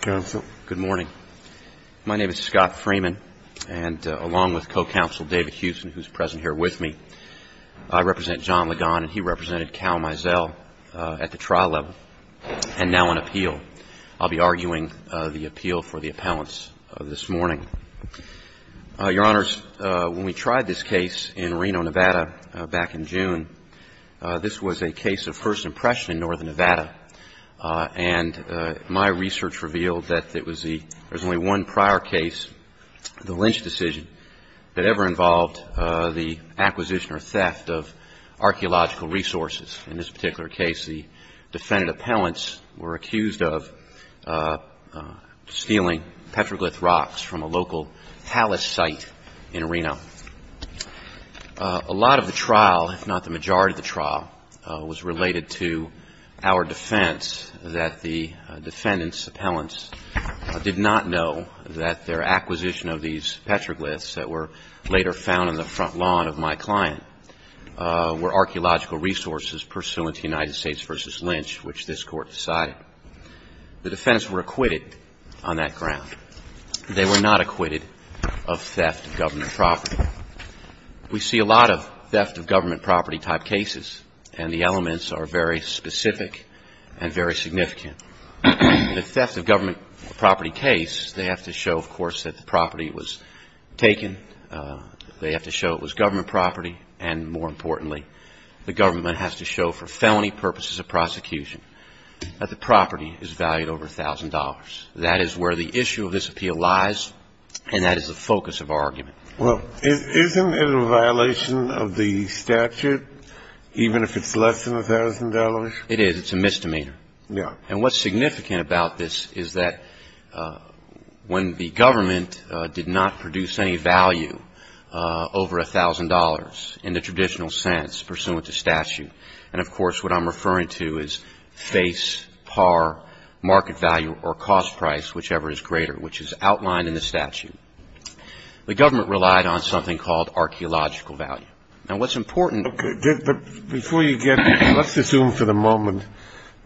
Good morning. My name is Scott Freeman, and along with co-counsel David Huston, who's present here with me, I represent John Ligon, and he represented Cal Meisel at the trial level and now on appeal. I'll be arguing the appeal for the appellants this morning. Your Honors, when we tried this case in Reno, Nevada, back in June, this was a case of first impression in northern Nevada, and my research revealed that it was the – there was only one prior case, the Lynch decision, that ever involved the acquisition or theft of archeological resources. In this particular case, the defendant appellants were accused of stealing petroglyph rocks from a local palace site in Reno. A lot of the trial, if not the majority of the trial, was related to our defense that the defendant's appellants did not know that their acquisition of these petroglyphs that were later found on the front lawn of my client were archeological resources pursuant to United States v. Lynch, which this Court decided. The defendants were acquitted on that ground. They were not acquitted of theft of government property. We see a lot of theft of government property type cases, and the elements are very specific and very significant. The theft of government property case, they have to show, of course, that the property was taken. They have to show it was government property, and more importantly, the government has to show for felony purposes of prosecution that the property is valued over $1,000. That is where the issue of this appeal lies, and that is the focus of our argument. Well, isn't it a violation of the statute, even if it's less than $1,000? It is. It's a misdemeanor. Yeah. And what's significant about this is that when the government did not produce any value over $1,000 in the traditional sense pursuant to statute, and of course, what I'm referring to is face, par, market value, or cost price, whichever is greater, which is outlined in the statute, the government relied on something called archeological value. Now, what's important – Okay. But before you get – let's assume for the moment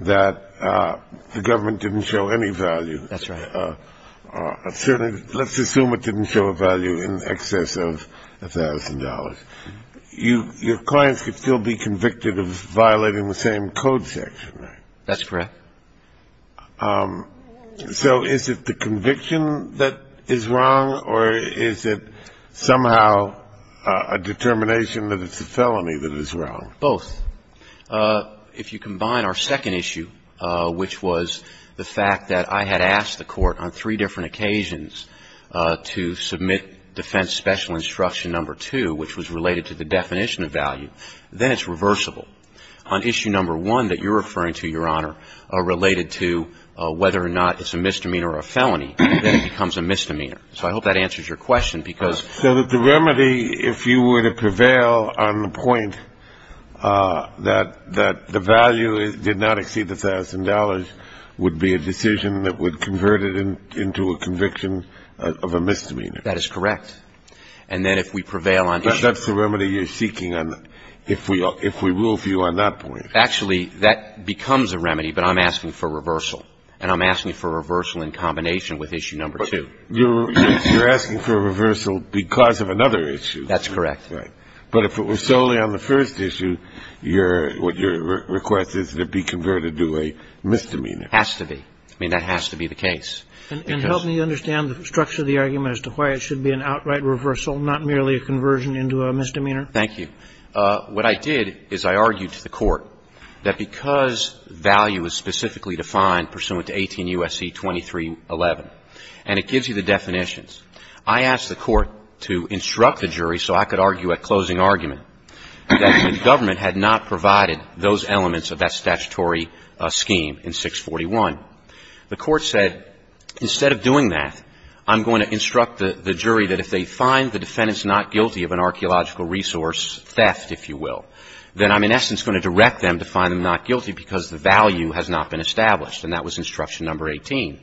that the government didn't show any value. That's right. Let's assume it didn't show a value in excess of $1,000. Your clients could still be convicted of violating the same code section, right? That's correct. So is it the conviction that is wrong, or is it somehow a determination that it's a felony that is wrong? Both. If you combine our second issue, which was the fact that I had asked the Court on three different occasions to submit defense special instruction number 2, which was related to the definition of value, then it's reversible. On issue number 1 that you're referring to, Your Honor, related to whether or not it's a misdemeanor or a felony, then it becomes a misdemeanor. So I hope that answers your question, because – So that the remedy, if you were to prevail on the point that the value did not exceed the $1,000, would be a decision that would convert it into a conviction of a misdemeanor. That is correct. And then if we prevail on issue – That's the remedy you're seeking on the – if we rule for you on that point. Actually, that becomes a remedy, but I'm asking for reversal. And I'm asking for reversal in combination with issue number 2. You're asking for a reversal because of another issue. That's correct. Right. But if it was solely on the first issue, your – what your request is that it be converted to a misdemeanor. It has to be. I mean, that has to be the case. And help me understand the structure of the argument as to why it should be an outright reversal, not merely a conversion into a misdemeanor. Thank you. What I did is I argued to the Court that because value is specifically defined pursuant to 18 U.S.C. 2311, and it gives you the definitions, I asked the Court to instruct the jury so I could argue a closing argument that the government had not provided those elements of that statutory scheme in 641. The Court said, instead of doing that, I'm going to instruct the jury that if they find the defendants not guilty of an archaeological resource theft, if you will, then I'm in essence going to direct them to find them not guilty because the value has not been established. And that was instruction number 18.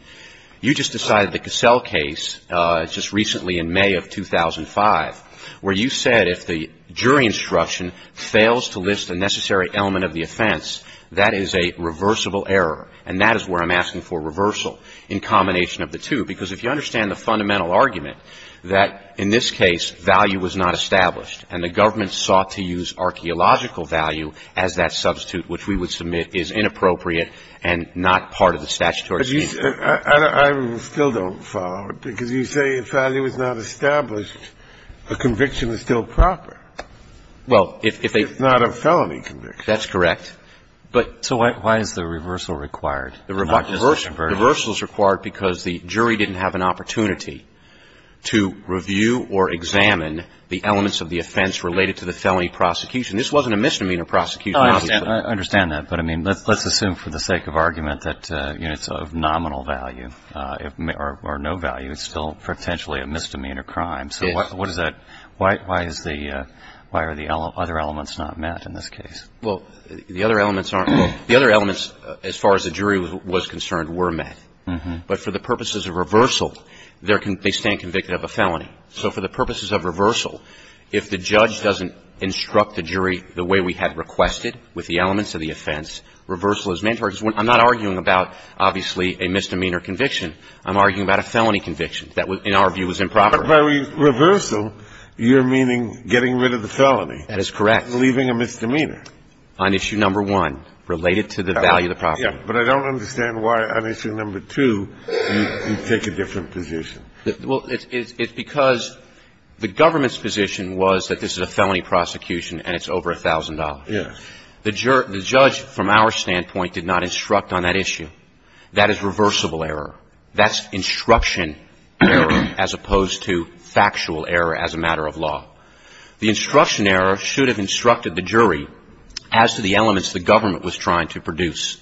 You just decided the Cassell case just recently in May of 2005, where you said if the jury instruction fails to list a necessary element of the offense, that is a reversible error. And that is where I'm asking for reversal in combination of the two. Because if you understand the fundamental argument that in this case, value was not established, and the government sought to use archaeological value as that substitute, which we would submit is inappropriate and not part of the statutory scheme. I still don't follow, because you say if value is not established, a conviction is still proper, if not a felony conviction. That's correct. But so why is the reversal required? The reversal is required because the jury didn't have an opportunity to review or examine the elements of the offense related to the felony prosecution. This wasn't a misdemeanor prosecution, obviously. I understand that. But, I mean, let's assume for the sake of argument that it's of nominal value or no value. It's still potentially a misdemeanor crime. So what is that why is the why are the other elements not met in this case? Well, the other elements aren't met. The other elements, as far as the jury was concerned, were met. But for the purposes of reversal, they stand convicted of a felony. So for the purposes of reversal, if the judge doesn't instruct the jury the way we had requested with the elements of the offense, reversal is mandatory. I'm not arguing about, obviously, a misdemeanor conviction. I'm arguing about a felony conviction that in our view was improper. But by reversal, you're meaning getting rid of the felony. That is correct. Leaving a misdemeanor. On issue number one, related to the value of the property. Yeah, but I don't understand why on issue number two, you take a different position. Well, it's because the government's position was that this is a felony prosecution and it's over $1,000. Yeah. The judge, from our standpoint, did not instruct on that issue. That is reversible error. That's instruction error as opposed to factual error as a matter of law. The instruction error should have instructed the jury as to the elements the government was trying to produce.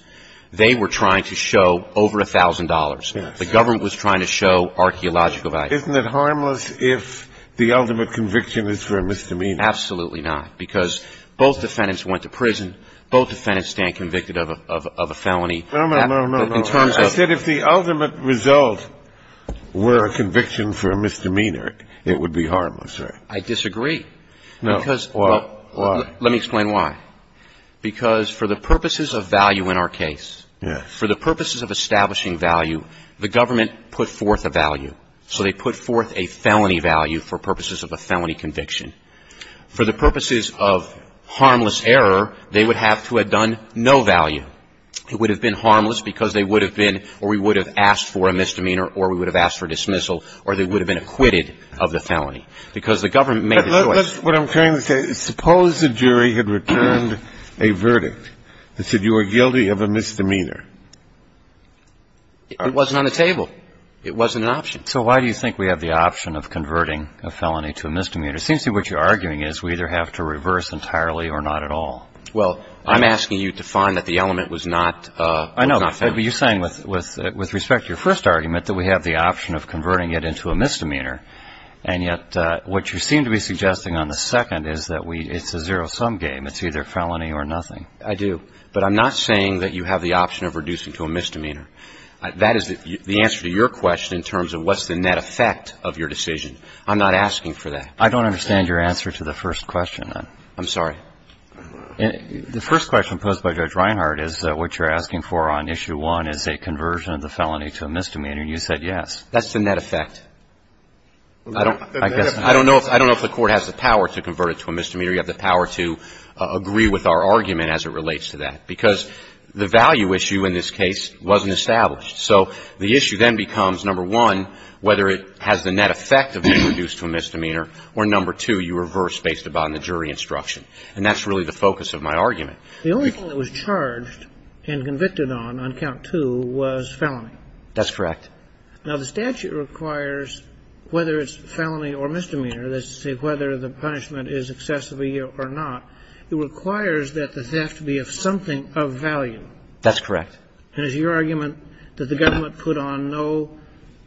They were trying to show over $1,000. The government was trying to show archaeological value. Isn't it harmless if the ultimate conviction is for a misdemeanor? Absolutely not. Because both defendants went to prison. Both defendants stand convicted of a felony. No, no, no, no, no. I said if the ultimate result were a conviction for a misdemeanor, it would be harmless. I'm sorry. I disagree. No, why? Let me explain why. Because for the purposes of value in our case, for the purposes of establishing value, the government put forth a value. So they put forth a felony value for purposes of a felony conviction. For the purposes of harmless error, they would have to have done no value. It would have been harmless because they would have been or we would have asked for a misdemeanor or we would have asked for dismissal or they would have been acquitted of the felony. Because the government made the choice. But what I'm trying to say is suppose the jury had returned a verdict that said you were guilty of a misdemeanor. It wasn't on the table. It wasn't an option. So why do you think we have the option of converting a felony to a misdemeanor? It seems to me what you're arguing is we either have to reverse entirely or not at all. Well, I'm asking you to find that the element was not a felony. I know, but you're saying with respect to your first argument that we have the option of converting it into a misdemeanor. And yet what you seem to be suggesting on the second is that it's a zero-sum game. It's either felony or nothing. I do. But I'm not saying that you have the option of reducing to a misdemeanor. That is the answer to your question in terms of what's the net effect of your decision. I'm not asking for that. I don't understand your answer to the first question. I'm sorry. The first question posed by Judge Reinhart is that what you're asking for on issue one is a conversion of the felony to a misdemeanor. And you said yes. That's the net effect. I don't know if the court has the power to convert it to a misdemeanor. You have the power to agree with our argument as it relates to that. Because the value issue in this case wasn't established. So the issue then becomes, number one, whether it has the net effect of being reduced to a misdemeanor. Or number two, you reverse based upon the jury instruction. And that's really the focus of my argument. The only thing that was charged and convicted on, on count two, was felony. That's correct. Now, the statute requires, whether it's felony or misdemeanor, that's to say whether the punishment is excessive or not, it requires that the theft be of something of value. That's correct. And is your argument that the government put on no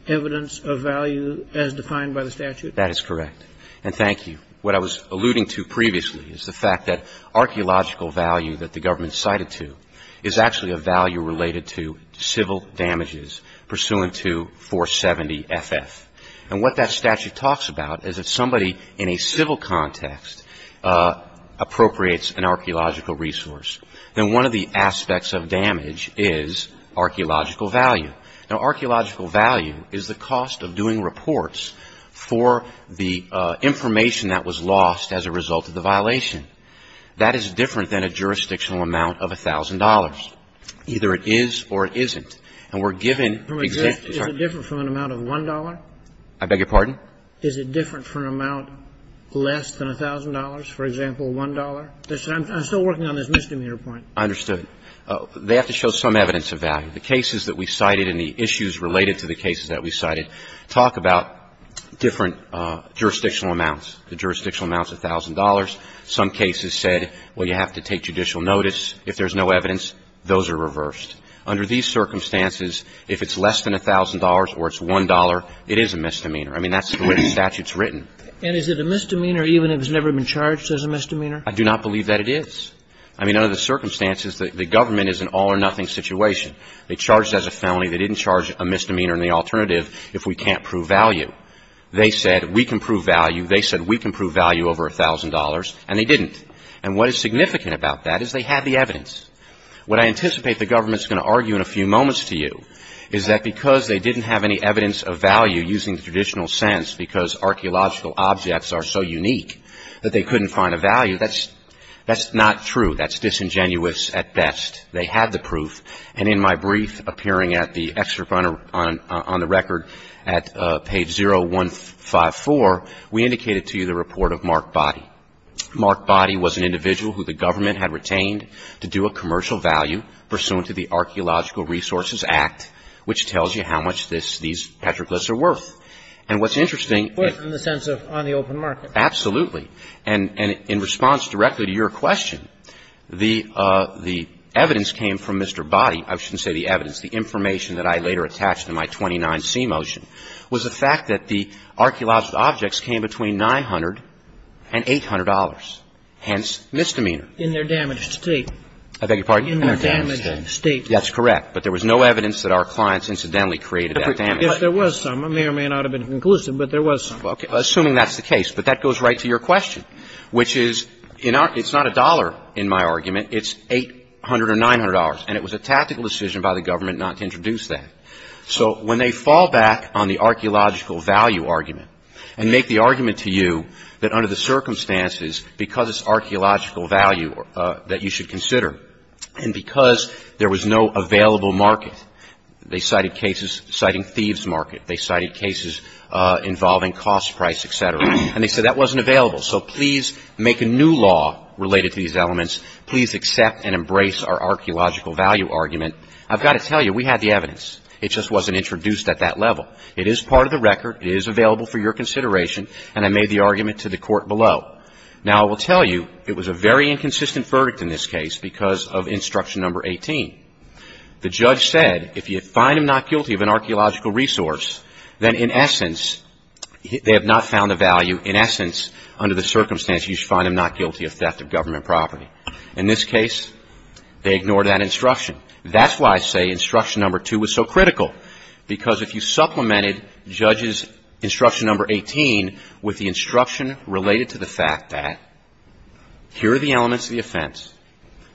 evidence of value as defined by the statute? That is correct. And thank you. What I was alluding to previously is the fact that archaeological value that the government cited to is actually a value related to civil damages pursuant to 470 FF. And what that statute talks about is if somebody in a civil context appropriates an archaeological resource, then one of the aspects of damage is archaeological value. Now, archaeological value is the cost of doing reports for the information that was lost as a result of the violation. That is different than a jurisdictional amount of $1,000. Either it is or it isn't. And we're given the exact ---- Is it different from an amount of $1? I beg your pardon? Is it different from an amount less than $1,000, for example, $1? I'm still working on this misdemeanor point. I understood. They have to show some evidence of value. The cases that we cited and the issues related to the cases that we cited talk about different jurisdictional amounts. The jurisdictional amount is $1,000. Some cases said, well, you have to take judicial notice. If there's no evidence, those are reversed. Under these circumstances, if it's less than $1,000 or it's $1, it is a misdemeanor. I mean, that's the way the statute's written. And is it a misdemeanor even if it's never been charged as a misdemeanor? I do not believe that it is. I mean, under the circumstances, the government is an all-or-nothing situation. They charged us a felony. They didn't charge a misdemeanor in the alternative if we can't prove value. They said we can prove value. They said we can prove value over $1,000, and they didn't. And what is significant about that is they had the evidence. What I anticipate the government's going to argue in a few moments to you is that because they didn't have any evidence of value using the traditional sense because archaeological objects are so unique that they couldn't find a value, that's not true. That's disingenuous at best. They had the proof. And in my brief appearing at the excerpt on the record at page 0154, we indicated to you the report of Mark Boddy. Mark Boddy was an individual who the government had retained to do a commercial value pursuant to the Archaeological Resources Act, which tells you how much these petroglyphs are worth. And what's interesting — Worth in the sense of on the open market. Absolutely. And in response directly to your question, the evidence came from Mr. Boddy — I shouldn't say the evidence, the information that I later attached in my 29C motion — was the fact that the archaeological objects came between $900 and $800, hence misdemeanor. In their damaged state. I beg your pardon? In their damaged state. That's correct. But there was no evidence that our clients incidentally created that damage. If there was some, it may or may not have been conclusive, but there was some. Assuming that's the case. But that goes right to your question, which is, it's not a dollar in my argument. It's $800 or $900. And it was a tactical decision by the government not to introduce that. So when they fall back on the archaeological value argument and make the argument to you that under the circumstances, because it's archaeological value that you should consider, and because there was no available market, they cited cases citing thieves market. They cited cases involving cost price, et cetera. And they said that wasn't available. So please make a new law related to these elements. Please accept and embrace our archaeological value argument. I've got to tell you, we had the evidence. It just wasn't introduced at that level. It is part of the record. It is available for your consideration. And I made the argument to the court below. Now, I will tell you, it was a very inconsistent verdict in this case because of instruction number 18. The judge said, if you find him not guilty of an archaeological resource, then in essence, they have not found a value. In essence, under the circumstance, you should find him not guilty of theft of government property. In this case, they ignored that instruction. That's why I say instruction number two was so critical. Because if you supplemented judge's instruction number 18 with the instruction related to the fact that here are the elements of the offense.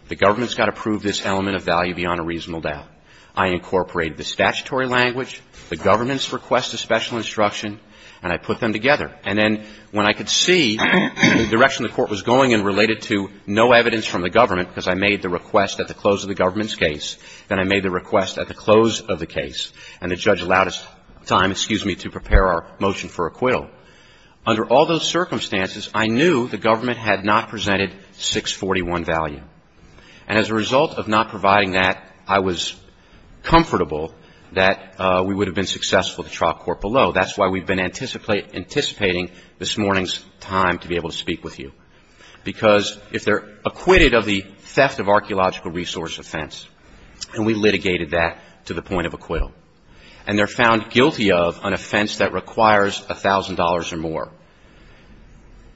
The government's got to prove this element of value beyond a reasonable doubt. I incorporated the statutory language, the government's request of special instruction, and I put them together. And then when I could see the direction the court was going in related to no evidence from the government, because I made the request at the close of the government's case, then I made the request at the close of the case, and the judge allowed us time, excuse me, to prepare our motion for acquittal. Under all those circumstances, I knew the government had not presented 641 value. And as a result of not providing that, I was comfortable that we would have been successful at the trial court below. That's why we've been anticipating this morning's time to be able to speak with you. Because if they're acquitted of the theft of archaeological resource offense, and we litigated that to the point of acquittal, and they're found guilty of an offense that requires $1,000 or more,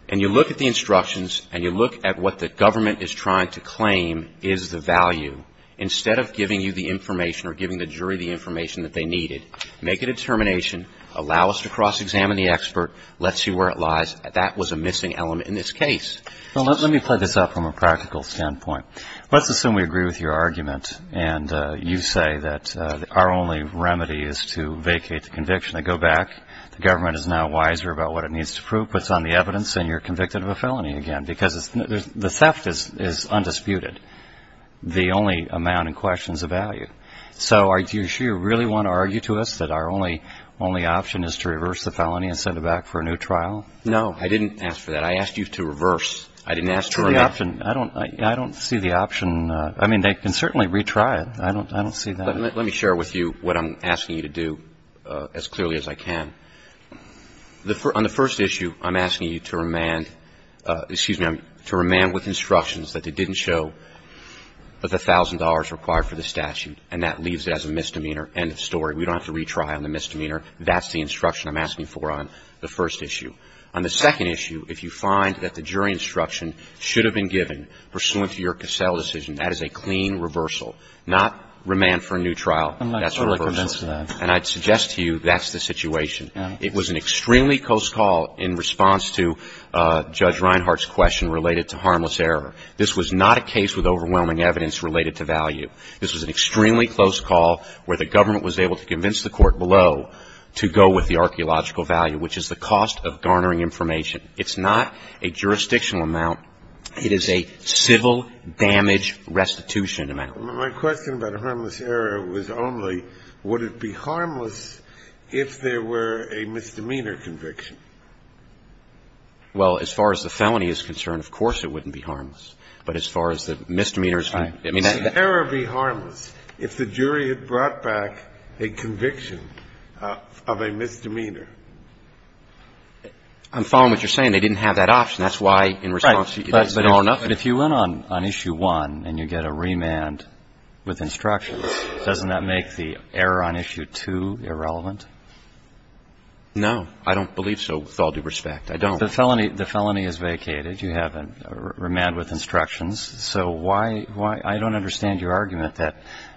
and you look at the instructions, and you look at what the government is trying to claim is the value, instead of giving you the information or giving the jury the information that they needed, make a determination, allow us to cross-examine the expert, let's see where it lies, that was a missing element in this case. Well, let me put this up from a practical standpoint. Let's assume we agree with your argument, and you say that our only remedy is to vacate the conviction and go back. The government is now wiser about what it needs to prove, puts on the evidence, and you're convicted of a felony again. Because the theft is undisputed. The only amount in question is the value. So are you sure you really want to argue to us that our only option is to reverse the felony and send it back for a new trial? No, I didn't ask for that. I asked you to reverse. I didn't ask to remand. I don't see the option. I mean, they can certainly retry it. I don't see that. Let me share with you what I'm asking you to do as clearly as I can. On the first issue, I'm asking you to remand with instructions that they didn't show with $1,000 required for the statute, and that leaves it as a misdemeanor. End of story. We don't have to retry on the misdemeanor. That's the instruction I'm asking for on the first issue. On the second issue, if you find that the jury instruction should have been given pursuant to your Cassell decision, that is a clean reversal, not remand for a new trial. That's a reversal. And I'd suggest to you that's the situation. It was an extremely close call in response to Judge Reinhart's question related to harmless error. This was not a case with overwhelming evidence related to value. This was an extremely close call where the government was able to convince the court below to go with the archaeological value, which is the cost of garnering information. It's not a jurisdictional amount. It is a civil damage restitution amount. My question about harmless error was only, would it be harmless if there were a misdemeanor conviction? Well, as far as the felony is concerned, of course it wouldn't be harmless. But as far as the misdemeanors. Would error be harmless if the jury had brought back a conviction of a misdemeanor? I'm following what you're saying. They didn't have that option. That's why in response to your question. But if you went on issue one and you get a remand with instructions, doesn't that make the error on issue two irrelevant? No. I don't believe so with all due respect. I don't. The felony is vacated. You have a remand with instructions. So why? I don't understand your argument that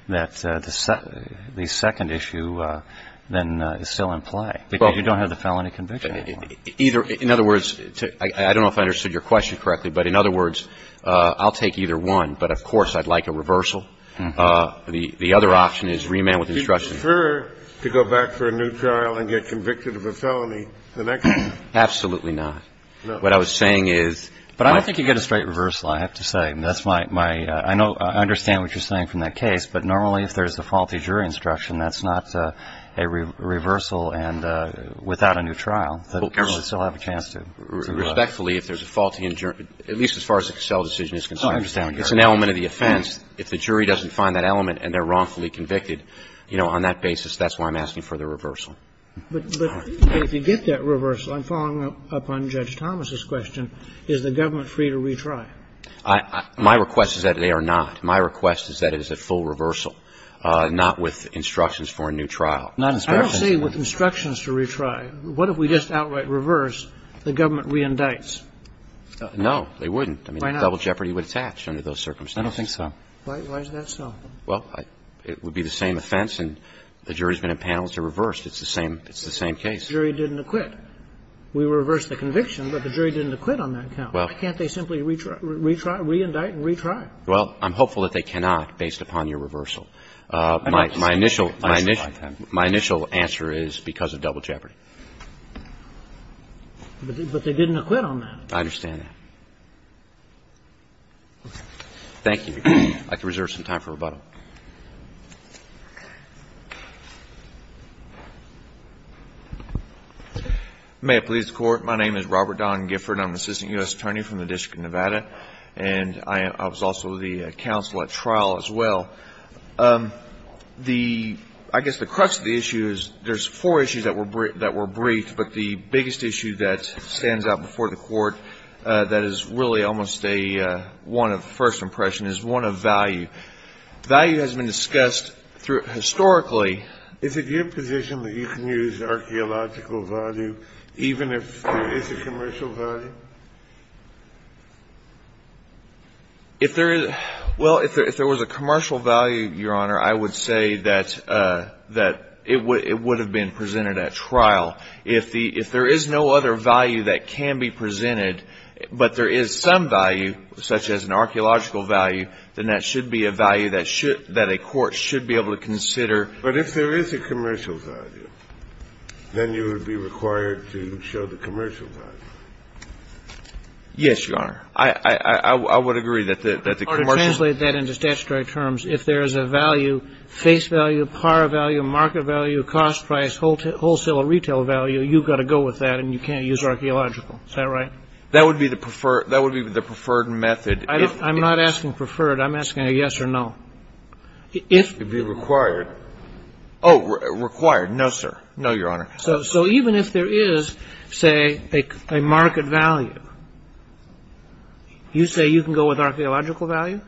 the second issue then is still in play. Because you don't have the felony conviction. Either. In other words, I don't know if I understood your question correctly. But in other words, I'll take either one. But of course, I'd like a reversal. The other option is remand with instructions. Do you prefer to go back for a new trial and get convicted of a felony the next time? Absolutely not. What I was saying is. But I don't think you get a straight reversal. I have to say that's my I know I understand what you're saying from that case. But normally if there's a faulty jury instruction, that's not a reversal. And without a new trial, you still have a chance to. Respectfully, if there's a faulty injury, at least as far as Excel decision is concerned, it's an element of the offense. If the jury doesn't find that element and they're wrongfully convicted, you know, on that basis, that's why I'm asking for the reversal. But if you get that reversal, I'm following up on Judge Thomas's question, is the government free to retry? My request is that they are not. My request is that it is a full reversal, not with instructions for a new trial. I don't say with instructions to retry. What if we just outright reverse, the government reindicts? No, they wouldn't. I mean, double jeopardy would attach under those circumstances. I don't think so. Why is that so? Well, it would be the same offense and the jury's been impaneled to reverse. It's the same case. The jury didn't acquit. We reversed the conviction, but the jury didn't acquit on that count. Why can't they simply retry, reindict and retry? Well, I'm hopeful that they cannot, based upon your reversal. My initial answer is because of double jeopardy. But they didn't acquit on that. I understand that. Thank you. I can reserve some time for rebuttal. May it please the Court. My name is Robert Don Gifford. I'm an assistant U.S. attorney from the District of Nevada. And I was also the counsel at trial as well. The ‑‑ I guess the crux of the issue is there's four issues that were briefed. But the biggest issue that stands out before the Court that is really almost a one of first impression is one of value. Value has been discussed historically. Is it your position that you can use archeological value even if there is a commercial value? If there is ‑‑ well, if there was a commercial value, Your Honor, I would say that it would have been presented at trial. If there is no other value that can be presented, but there is some value, such as an archeological value, then that should be a value that a court should be able to consider. But if there is a commercial value, then you would be required to show the commercial value. Yes, Your Honor. I would agree that the commercial ‑‑ you've got to go with that and you can't use archeological. Is that right? That would be the preferred method. I'm not asking preferred. I'm asking a yes or no. It would be required. Oh, required. No, sir. No, Your Honor. So even if there is, say, a market value, you say you can go with archeological value?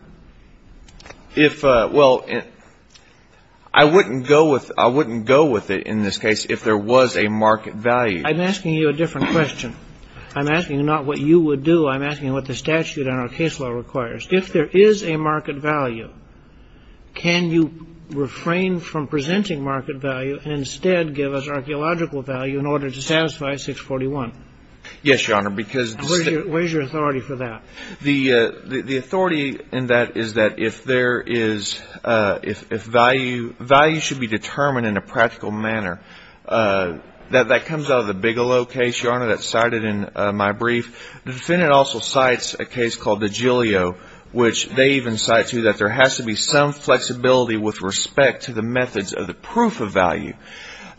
If ‑‑ well, I wouldn't go with it in this case if there was a market value. I'm asking you a different question. I'm asking you not what you would do. I'm asking you what the statute on our case law requires. If there is a market value, can you refrain from presenting market value and instead give us archeological value in order to satisfy 641? Yes, Your Honor, because ‑‑ Where is your authority for that? The authority in that is that if there is ‑‑ if value ‑‑ value should be determined in a practical manner. That comes out of the Bigelow case, Your Honor, that's cited in my brief. The defendant also cites a case called the Giglio, which they even cite, too, that there has to be some flexibility with respect to the methods of the proof of value.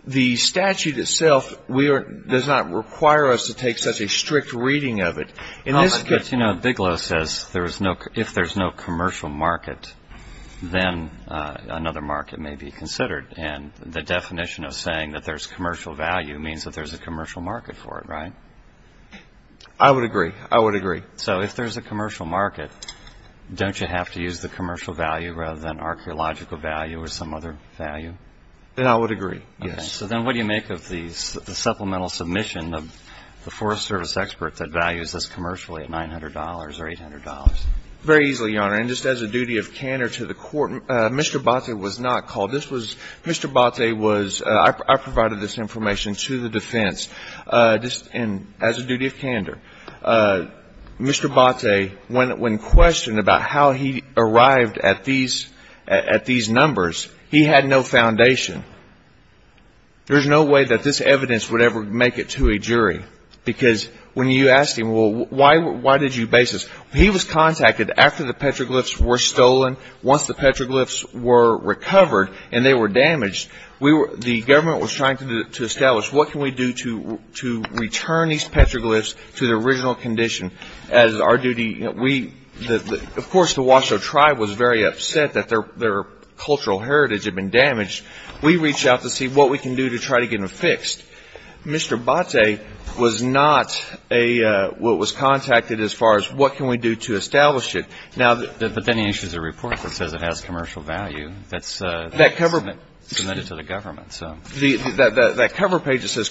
The statute itself does not require us to take such a strict reading of it. In this case, you know, Bigelow says if there's no commercial market, then another market may be considered. And the definition of saying that there's commercial value means that there's a commercial market for it, right? I would agree. I would agree. So if there's a commercial market, don't you have to use the commercial value rather than archeological value or some other value? I would agree, yes. Okay, so then what do you make of the supplemental submission of the Forest Service expert that values this commercially at $900 or $800? Very easily, Your Honor, and just as a duty of candor to the court, Mr. Botte was not called. This was ‑‑ Mr. Botte was ‑‑ I provided this information to the defense, just as a duty of candor. Mr. Botte, when questioned about how he arrived at these numbers, he had no foundation. There's no way that this evidence would ever make it to a jury, because when you asked him, well, why did you base this? He was contacted after the petroglyphs were stolen, once the petroglyphs were recovered and they were damaged, the government was trying to establish what can we do to return these petroglyphs to their original condition. As our duty, we ‑‑ of course, the Washoe tribe was very upset that their cultural heritage had been damaged. We reached out to see what we can do to try to get them fixed. Mr. Botte was not a ‑‑ was contacted as far as what can we do to establish it. Now, but then he issues a report that says it has commercial value that's submitted to the government, so. That cover page that says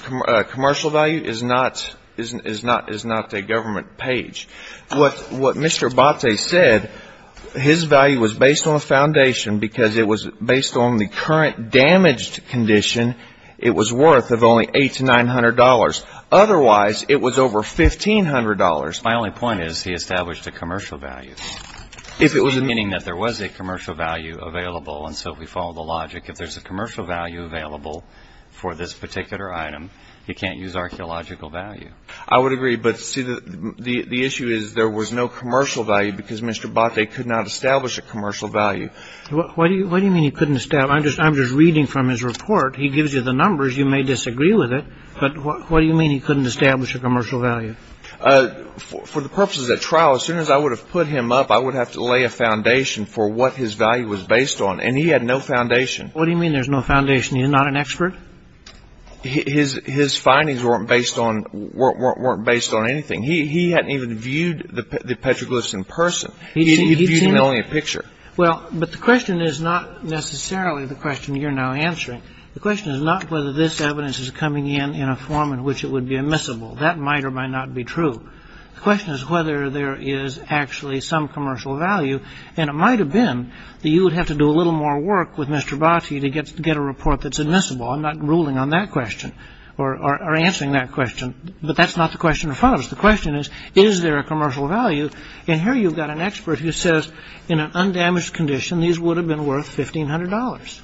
commercial value is not a government page. What Mr. Botte said, his value was based on a foundation, because it was based on the current damaged condition, it was worth of only $800 to $900. Otherwise, it was over $1,500. My only point is he established a commercial value. If it was a ‑‑ Meaning that there was a commercial value available, and so if we follow the logic, if there's a commercial value available for this particular item, you can't use archeological value. I would agree, but see, the issue is there was no commercial value because Mr. Botte could not establish a commercial value. What do you mean he couldn't establish? I'm just reading from his report. He gives you the numbers. You may disagree with it, but what do you mean he couldn't establish a commercial value? For the purposes of that trial, as soon as I would have put him up, I would have to lay a foundation for what his value was based on, and he had no foundation. What do you mean there's no foundation? He's not an expert? His findings weren't based on anything. He hadn't even viewed the petroglyphs in person. He viewed them only in picture. Well, but the question is not necessarily the question you're now answering. The question is not whether this evidence is coming in in a form in which it would be admissible. That might or might not be true. The question is whether there is actually some commercial value, and it might have been that you would have to do a little more work with Mr. Botte to get a report that's admissible. I'm not ruling on that question or answering that question, but that's not the question in front of us. The question is, is there a commercial value? And here you've got an expert who says in an undamaged condition, these would have been worth $1,500.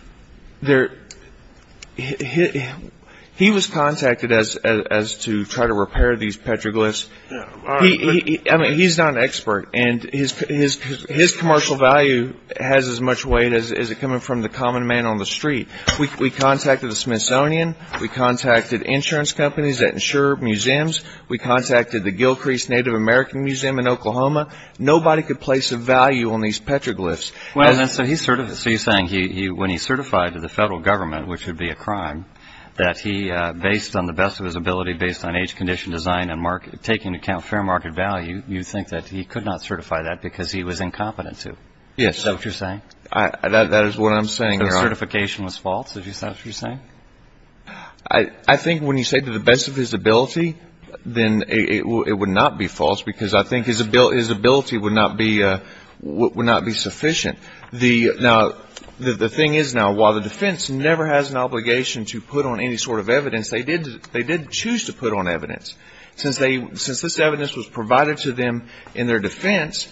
He was contacted as to try to repair these petroglyphs. I mean, he's not an expert, and his commercial value has as much weight as it coming from the common man on the street. We contacted the Smithsonian. We contacted insurance companies that insure museums. We contacted the Gilcrease Native American Museum in Oklahoma. Nobody could place a value on these petroglyphs. So you're saying when he certified to the federal government, which would be a crime, that based on the best of his ability, based on age, condition, design, and taking into account fair market value, you think that he could not certify that because he was incompetent to. Yes. Is that what you're saying? That is what I'm saying, Your Honor. So certification was false, is that what you're saying? I think when you say to the best of his ability, then it would not be false because I think his ability would not be sufficient. Now, the thing is now, while the defense never has an obligation to put on any sort of evidence, they did choose to put on evidence. Since this evidence was provided to them in their defense,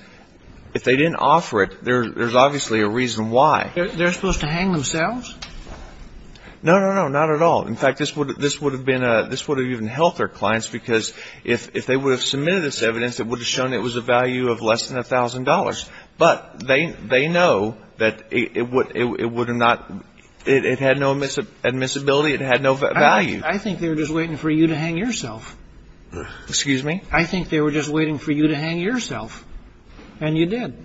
if they didn't offer it, there's obviously a reason why. They're supposed to hang themselves? No, no, no, not at all. In fact, this would have even helped their clients because if they would have submitted this evidence, it would have shown it was a value of less than $1,000. But they know that it had no admissibility, it had no value. I think they were just waiting for you to hang yourself. Excuse me? I think they were just waiting for you to hang yourself, and you did.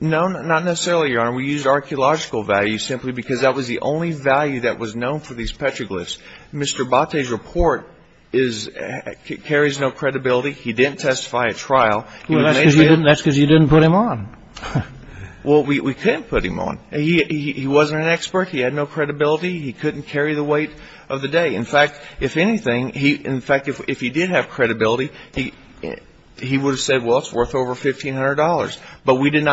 No, not necessarily, Your Honor. We used archeological value simply because that was the only value that was known for these petroglyphs. Mr. Batte's report carries no credibility. He didn't testify at trial. That's because you didn't put him on. Well, we couldn't put him on. He wasn't an expert. He had no credibility. He couldn't carry the weight of the day. In fact, if anything, in fact, if he did have credibility, he would have said, well, it's worth over $1,500. But we didn't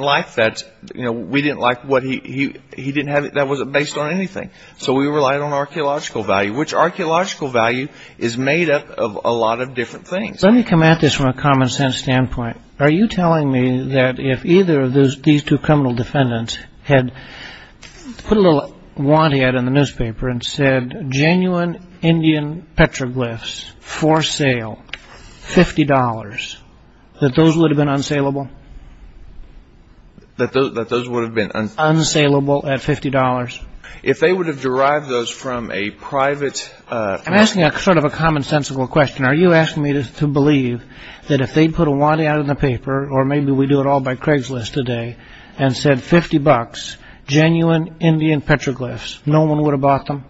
like that. We didn't like what he didn't have. That wasn't based on anything. So we relied on archeological value, which archeological value is made up of a lot of different things. Let me come at this from a common sense standpoint. Are you telling me that if either of these two criminal defendants had put a little wanty ad in the newspaper and said genuine Indian petroglyphs for sale, $50, that those would have been un-saleable? That those would have been un-saleable at $50? If they would have derived those from a private... I'm asking sort of a commonsensical question. Are you asking me to believe that if they put a wanty ad in the paper, or maybe we do it all by Craigslist today, and said $50, genuine Indian petroglyphs, no one would have bought them?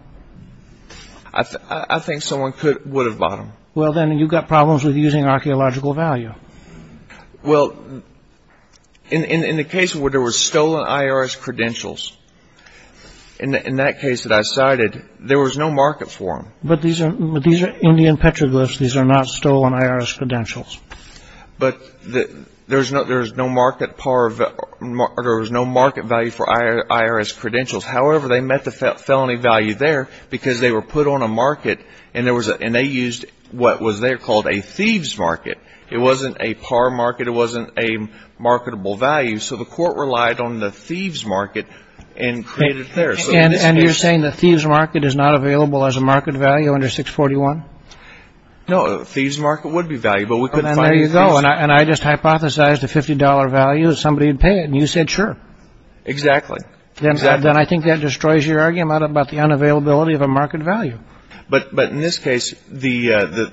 I think someone would have bought them. Well, then you've got problems with using archeological value. Well, in the case where there were stolen IRS credentials, in that case that I cited, there was no market for them. But these are Indian petroglyphs. These are not stolen IRS credentials. But there was no market value for IRS credentials. However, they met the felony value there because they were put on a market, and they used what was there called a thieves market. It wasn't a par market. It wasn't a marketable value. So the court relied on the thieves market and created it there. And you're saying the thieves market is not available as a market value under 641? No, a thieves market would be valuable. And there you go. And I just hypothesized a $50 value. Somebody would pay it. And you said, sure. Exactly. Then I think that destroys your argument about the unavailability of a market value. But in this case, the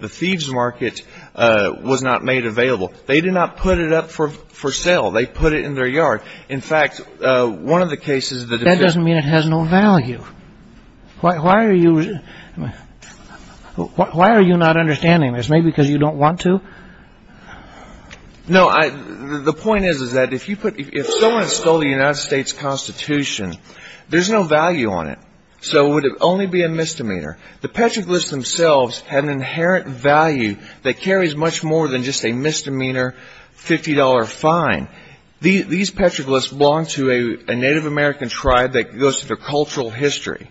thieves market was not made available. They did not put it up for sale. They put it in their yard. In fact, one of the cases— That doesn't mean it has no value. Why are you not understanding this? Maybe because you don't want to? No, the point is that if someone stole the United States Constitution, there's no value on it. So it would only be a misdemeanor. The Petroglyphs themselves had an inherent value that carries much more than just a misdemeanor $50 fine. These Petroglyphs belong to a Native American tribe that goes through cultural history.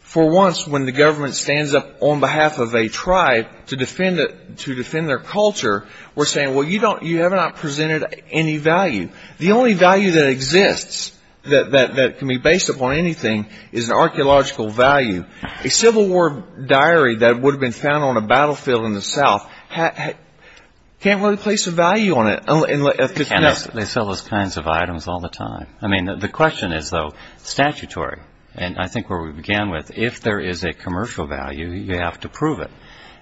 For once, when the government stands up on behalf of a tribe to defend their culture, we're saying, well, you have not presented any value. The only value that exists that can be based upon anything is an archeological value. A Civil War diary that would have been found on a battlefield in the south can't really place a value on it. And they sell those kinds of items all the time. I mean, the question is, though, statutory. And I think where we began with, if there is a commercial value, you have to prove it.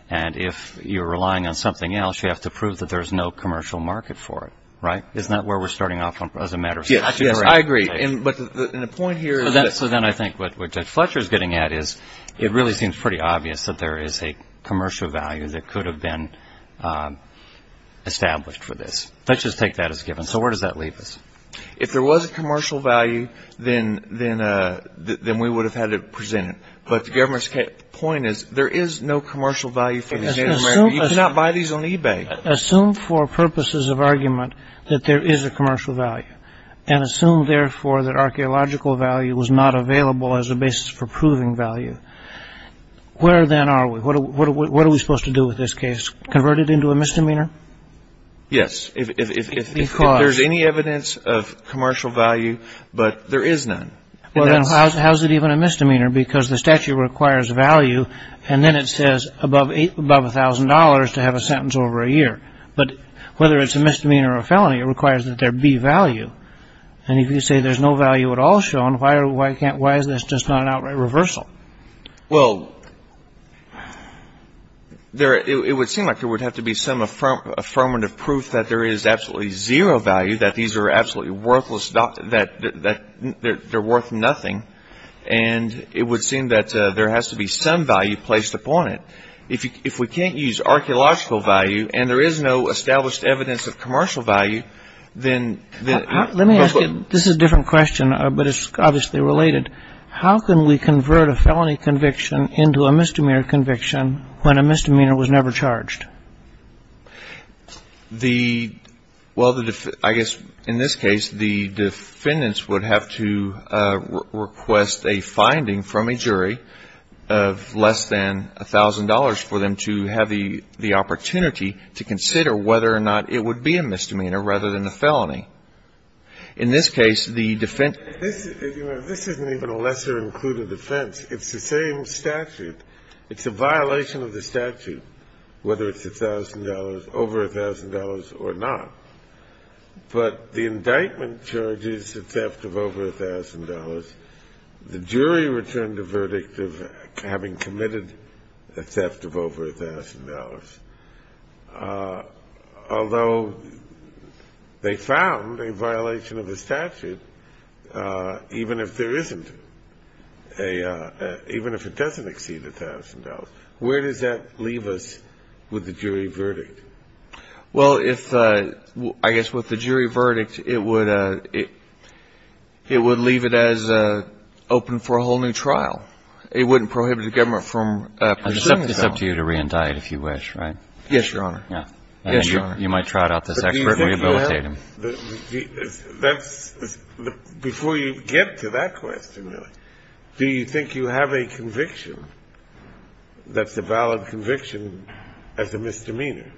And if you're relying on something else, you have to prove that there's no commercial market for it, right? Isn't that where we're starting off as a matter of statutory? Yes, I agree. But the point here— So then I think what Judge Fletcher is getting at is it really seems pretty obvious that there is a commercial value that could have been established for this. Let's just take that as given. So where does that leave us? If there was a commercial value, then we would have had to present it. But the government's point is there is no commercial value for these anti-American— You cannot buy these on eBay. Assume for purposes of argument that there is a commercial value. And assume, therefore, that archeological value was not available as a basis for proving value. Where then are we? What are we supposed to do with this case? Convert it into a misdemeanor? Yes, if there's any evidence of commercial value, but there is none. Well, then how is it even a misdemeanor? Because the statute requires value, and then it says above $1,000 to have a sentence over a year. But whether it's a misdemeanor or a felony, it requires that there be value. And if you say there's no value at all shown, why is this just not an outright reversal? Well, it would seem like there would have to be some affirmative proof that there is absolutely zero value, that these are absolutely worthless, that they're worth nothing. And it would seem that there has to be some value placed upon it. If we can't use archeological value, and there is no established evidence of commercial value, then— Let me ask you—this is a different question, but it's obviously related. How can we convert a felony conviction into a misdemeanor conviction when a misdemeanor was never charged? The—well, I guess in this case, the defendants would have to request a finding from a jury of less than $1,000 for them to have the opportunity to consider whether or not it would be a misdemeanor rather than a felony. In this case, the defendant— This isn't even a lesser-included offense. It's the same statute. It's a violation of the statute, whether it's $1,000, over $1,000, or not. But the indictment charges a theft of over $1,000. The jury returned a verdict of having committed a theft of over $1,000. Although they found a violation of the statute, even if there isn't a—even if it doesn't exceed $1,000. Where does that leave us with the jury verdict? Well, if—I guess with the jury verdict, it would leave it as open for a whole new trial. It wouldn't prohibit the government from pursuing a felony. It's up to you to reindict, if you wish, right? Yes, Your Honor. Yeah. Yes, Your Honor. You might try it out this expert rehabilitative. But do you think you have—before you get to that question, really, do you think you have a conviction that's a valid conviction as a misdemeanor?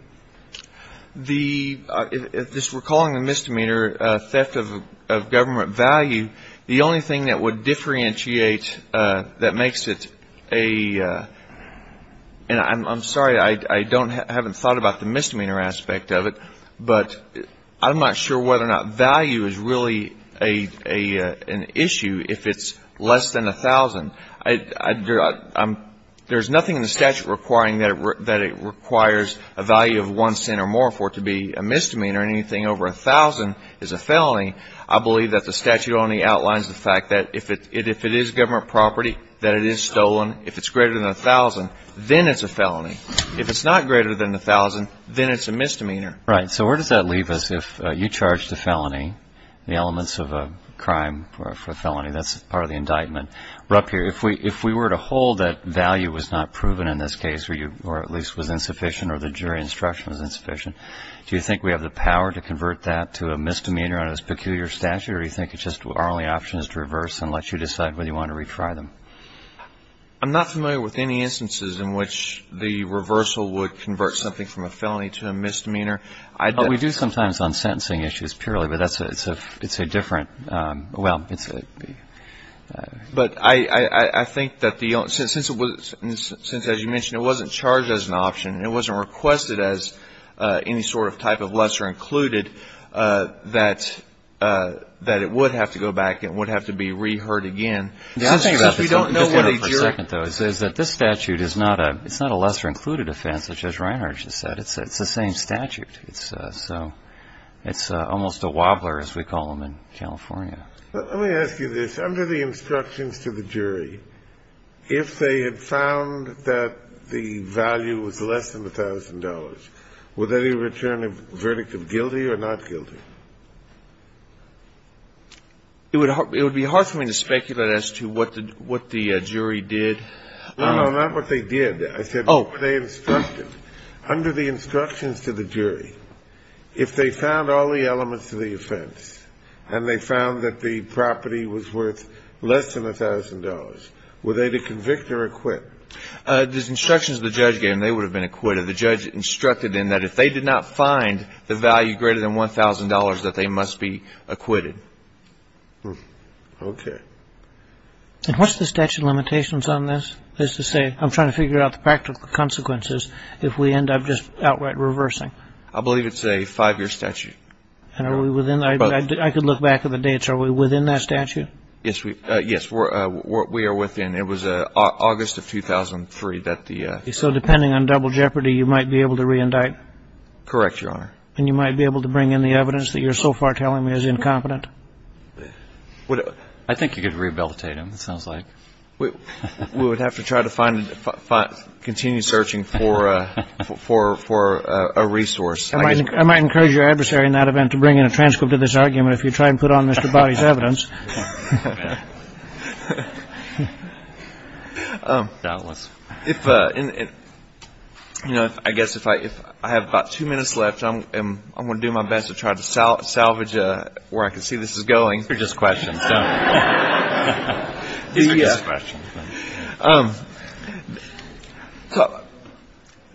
The—just recalling the misdemeanor, theft of government value, the only thing that would differentiate that makes it a—and I'm sorry, I don't—I haven't thought about the misdemeanor aspect of it. But I'm not sure whether or not value is really an issue if it's less than $1,000. I—there's nothing in the statute requiring that it requires a value of one cent or more for it to be a misdemeanor. Anything over $1,000 is a felony. I believe that the statute only outlines the fact that if it is government property, that it is stolen, if it's greater than $1,000, then it's a felony. If it's not greater than $1,000, then it's a misdemeanor. Right. So where does that leave us if you charged a felony, the elements of a crime for a felony? That's part of the indictment. Rupp here, if we were to hold that value was not proven in this case, or at least was insufficient, or the jury instruction was insufficient, do you think we have the power to convert that to a misdemeanor under this peculiar statute, or do you think it's just our only option is to reverse and let you decide whether you want to retry them? I'm not familiar with any instances in which the reversal would convert something from a felony to a misdemeanor. We do sometimes on sentencing issues purely, but that's a—it's a different—well, it's a— But I think that the—since, as you mentioned, it wasn't charged as an option, and it wasn't requested as any sort of type of lesser included, that it would have to go back and would have to be reheard again. The other thing about this, just to interrupt for a second, though, is that this statute is not a—it's not a lesser included offense, such as Reiner just said. It's the same statute. It's almost a wobbler, as we call them in California. Let me ask you this. Under the instructions to the jury, if they had found that the value was less than $1,000, would they return a verdict of guilty or not guilty? It would be hard for me to speculate as to what the jury did. No, no, not what they did. I said what were they instructed. Under the instructions to the jury, if they found all the elements of the offense and they found that the property was worth less than $1,000, were they to convict or acquit? The instructions of the judge gave them they would have been acquitted. The judge instructed them that if they did not find the value greater than $1,000, that they must be acquitted. Okay. And what's the statute limitations on this, as to say, I'm trying to figure out the practical consequences, if we end up just outright reversing? I believe it's a five-year statute. And are we within—I could look back at the dates. Are we within that statute? Yes, we are within. It was August of 2003 that the— So depending on double jeopardy, you might be able to reindict? Correct, Your Honor. And you might be able to bring in the evidence that you're so far telling me is incompetent? I think you could rehabilitate him, it sounds like. We would have to try to continue searching for a resource. I might encourage your adversary in that event to bring in a transcript of this argument, if you try and put on Mr. Bowdy's evidence. That was— If—I guess if I have about two minutes left, I'm going to do my best to try to salvage where I can see this is going. These are just questions. These are just questions.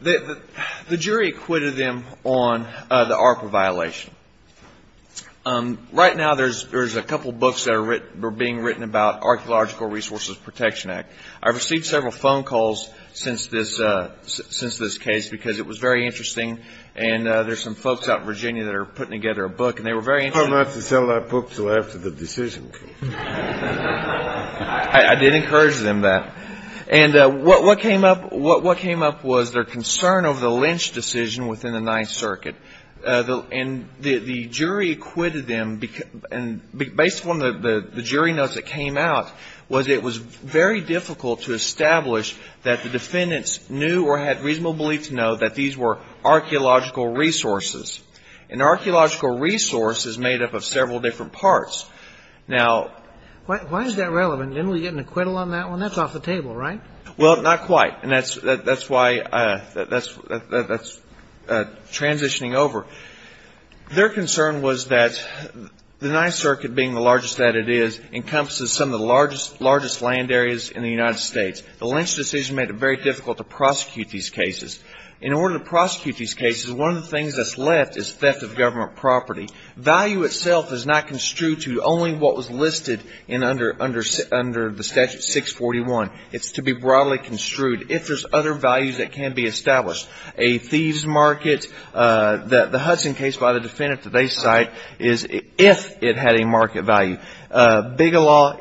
The jury acquitted him on the ARPA violation. Right now, there's a couple books that are being written about Archaeological Resources Protection Act. I've received several phone calls since this case because it was very interesting. And there's some folks out in Virginia that are putting together a book. And they were very— I'm going to have to sell that book until after the decision. I did encourage them that. And what came up was their concern over the Lynch decision within the Ninth Circuit. And the jury acquitted them. And based on one of the jury notes that came out was it was very difficult to establish that the defendants knew or had reasonable belief to know that these were archaeological resources. An archaeological resource is made up of several different parts. Now— Why is that relevant? Didn't we get an acquittal on that one? That's off the table, right? Well, not quite. And that's why—that's transitioning over. Their concern was that the Ninth Circuit, being the largest that it is, encompasses some of the largest land areas in the United States. The Lynch decision made it very difficult to prosecute these cases. In order to prosecute these cases, one of the things that's left is theft of government property. Value itself is not construed to only what was listed under the Statute 641. It's to be broadly construed if there's other values that can be established. A thieves' market, the Hudson case by the defendant that they cite is if it had a market value. Bigelaw,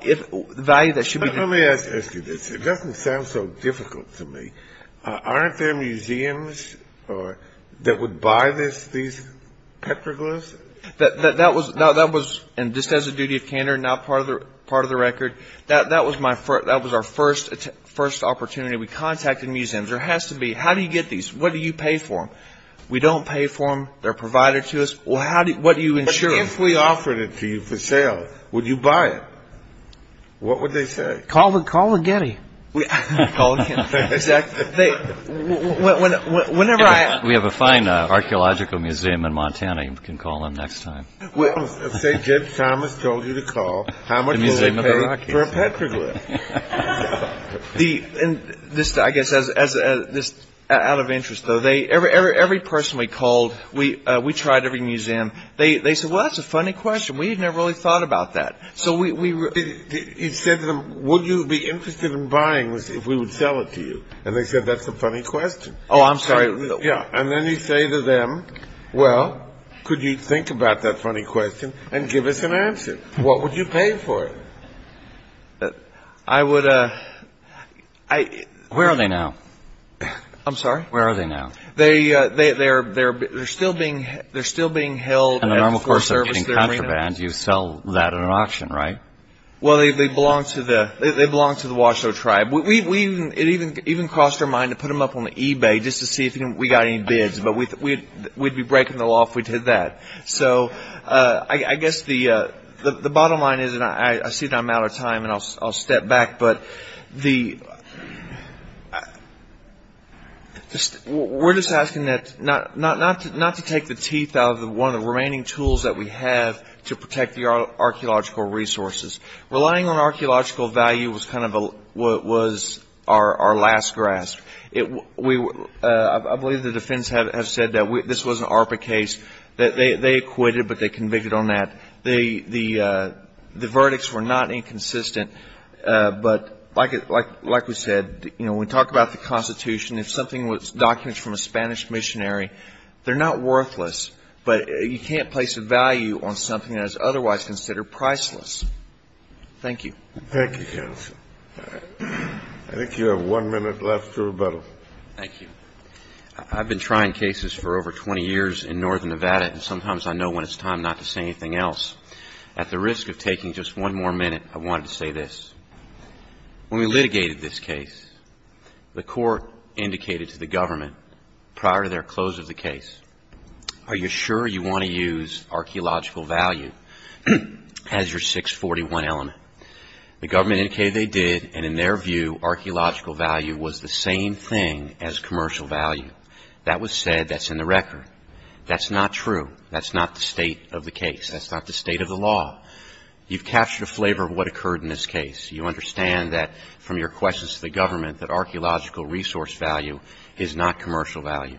value that should be— Let me ask you this. It doesn't sound so difficult to me. Aren't there museums that would buy these petroglyphs? That was—and just as a duty of candor, not part of the record. That was our first opportunity. We contacted museums. There has to be—how do you get these? What do you pay for them? We don't pay for them. They're provided to us. Well, how do you—what do you insure? But if we offered it to you for sale, would you buy it? What would they say? Call the Getty. Call the Getty. Exactly. Whenever I— We have a fine archaeological museum in Montana. You can call them next time. St. James Thomas told you to call. How much will we pay for a petroglyph? And this, I guess, out of interest, though, every person we called, we tried every museum. They said, well, that's a funny question. We had never really thought about that. So we— You said to them, would you be interested in buying this if we would sell it to you? And they said, that's a funny question. Oh, I'm sorry. Yeah. And then you say to them— Well? Could you think about that funny question and give us an answer? What would you pay for it? I would—I— Where are they now? I'm sorry? Where are they now? They—they're—they're still being—they're still being held— In the normal course of getting contraband, you sell that at an auction, right? Well, they belong to the—they belong to the Washoe tribe. We—it even crossed our mind to put them up on eBay just to see if we got any bids. But we'd be breaking the law if we did that. So I guess the—the bottom line is, and I see that I'm out of time and I'll step back, but the—we're just asking that—not to take the teeth out of one of the remaining tools that we have to protect the archaeological resources. Relying on archaeological value was kind of a—was our last grasp. I believe the defendants have said that this was an ARPA case. They acquitted, but they convicted on that. The—the—the verdicts were not inconsistent, but like we said, you know, when we talk about the Constitution, if something was documents from a Spanish missionary, they're not worthless, but you can't place a value on something that is otherwise considered priceless. Thank you. Thank you, counsel. I think you have one minute left for rebuttal. Thank you. I've been trying cases for over 20 years in northern Nevada, and sometimes I know when it's time not to say anything else. At the risk of taking just one more minute, I wanted to say this. When we litigated this case, the court indicated to the government prior to their close of the case, are you sure you want to use archaeological value as your 641 element? The government indicated they did, and in their view, archaeological value was the same thing as commercial value. That was said. That's in the record. That's not true. That's not the state of the case. That's not the state of the law. You've captured a flavor of what occurred in this case. You understand that from your questions to the government, that archaeological resource value is not commercial value.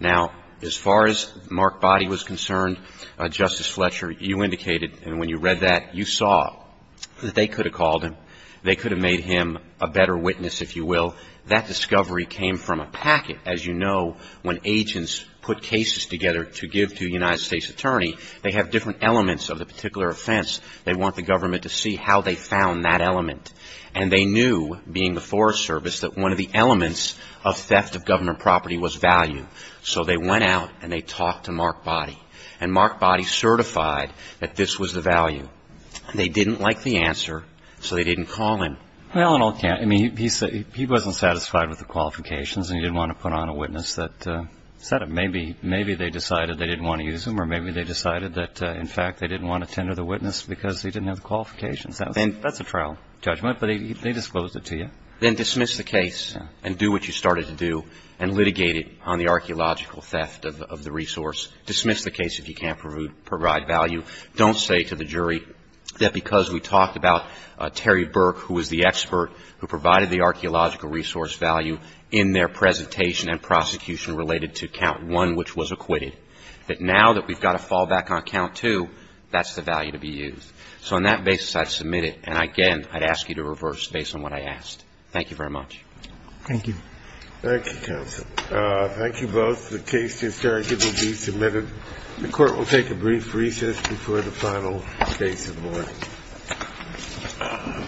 Now, as far as the marked body was concerned, Justice Fletcher, and when you read that, you saw that they could have called him. They could have made him a better witness, if you will. That discovery came from a packet. As you know, when agents put cases together to give to a United States attorney, they have different elements of the particular offense. They want the government to see how they found that element. And they knew, being the Forest Service, that one of the elements of theft of government property was value. So they went out and they talked to marked body. And marked body certified that this was the value. They didn't like the answer, so they didn't call him. Well, he wasn't satisfied with the qualifications, and he didn't want to put on a witness. Maybe they decided they didn't want to use him, or maybe they decided that, in fact, they didn't want to tender the witness because he didn't have the qualifications. That's a trial judgment, but they disclosed it to you. Then dismiss the case and do what you started to do and litigate it on the archaeological theft of the resource. Dismiss the case if you can't provide value. Don't say to the jury that because we talked about Terry Burke, who was the expert who provided the archaeological resource value in their presentation and prosecution related to count one, which was acquitted, that now that we've got a fallback on count two, that's the value to be used. So on that basis, I submit it. And, again, I'd ask you to reverse based on what I asked. Thank you very much. Thank you. Thank you, counsel. Thank you, both. The case and statute will be submitted. The court will take a brief recess before the final case of the morning.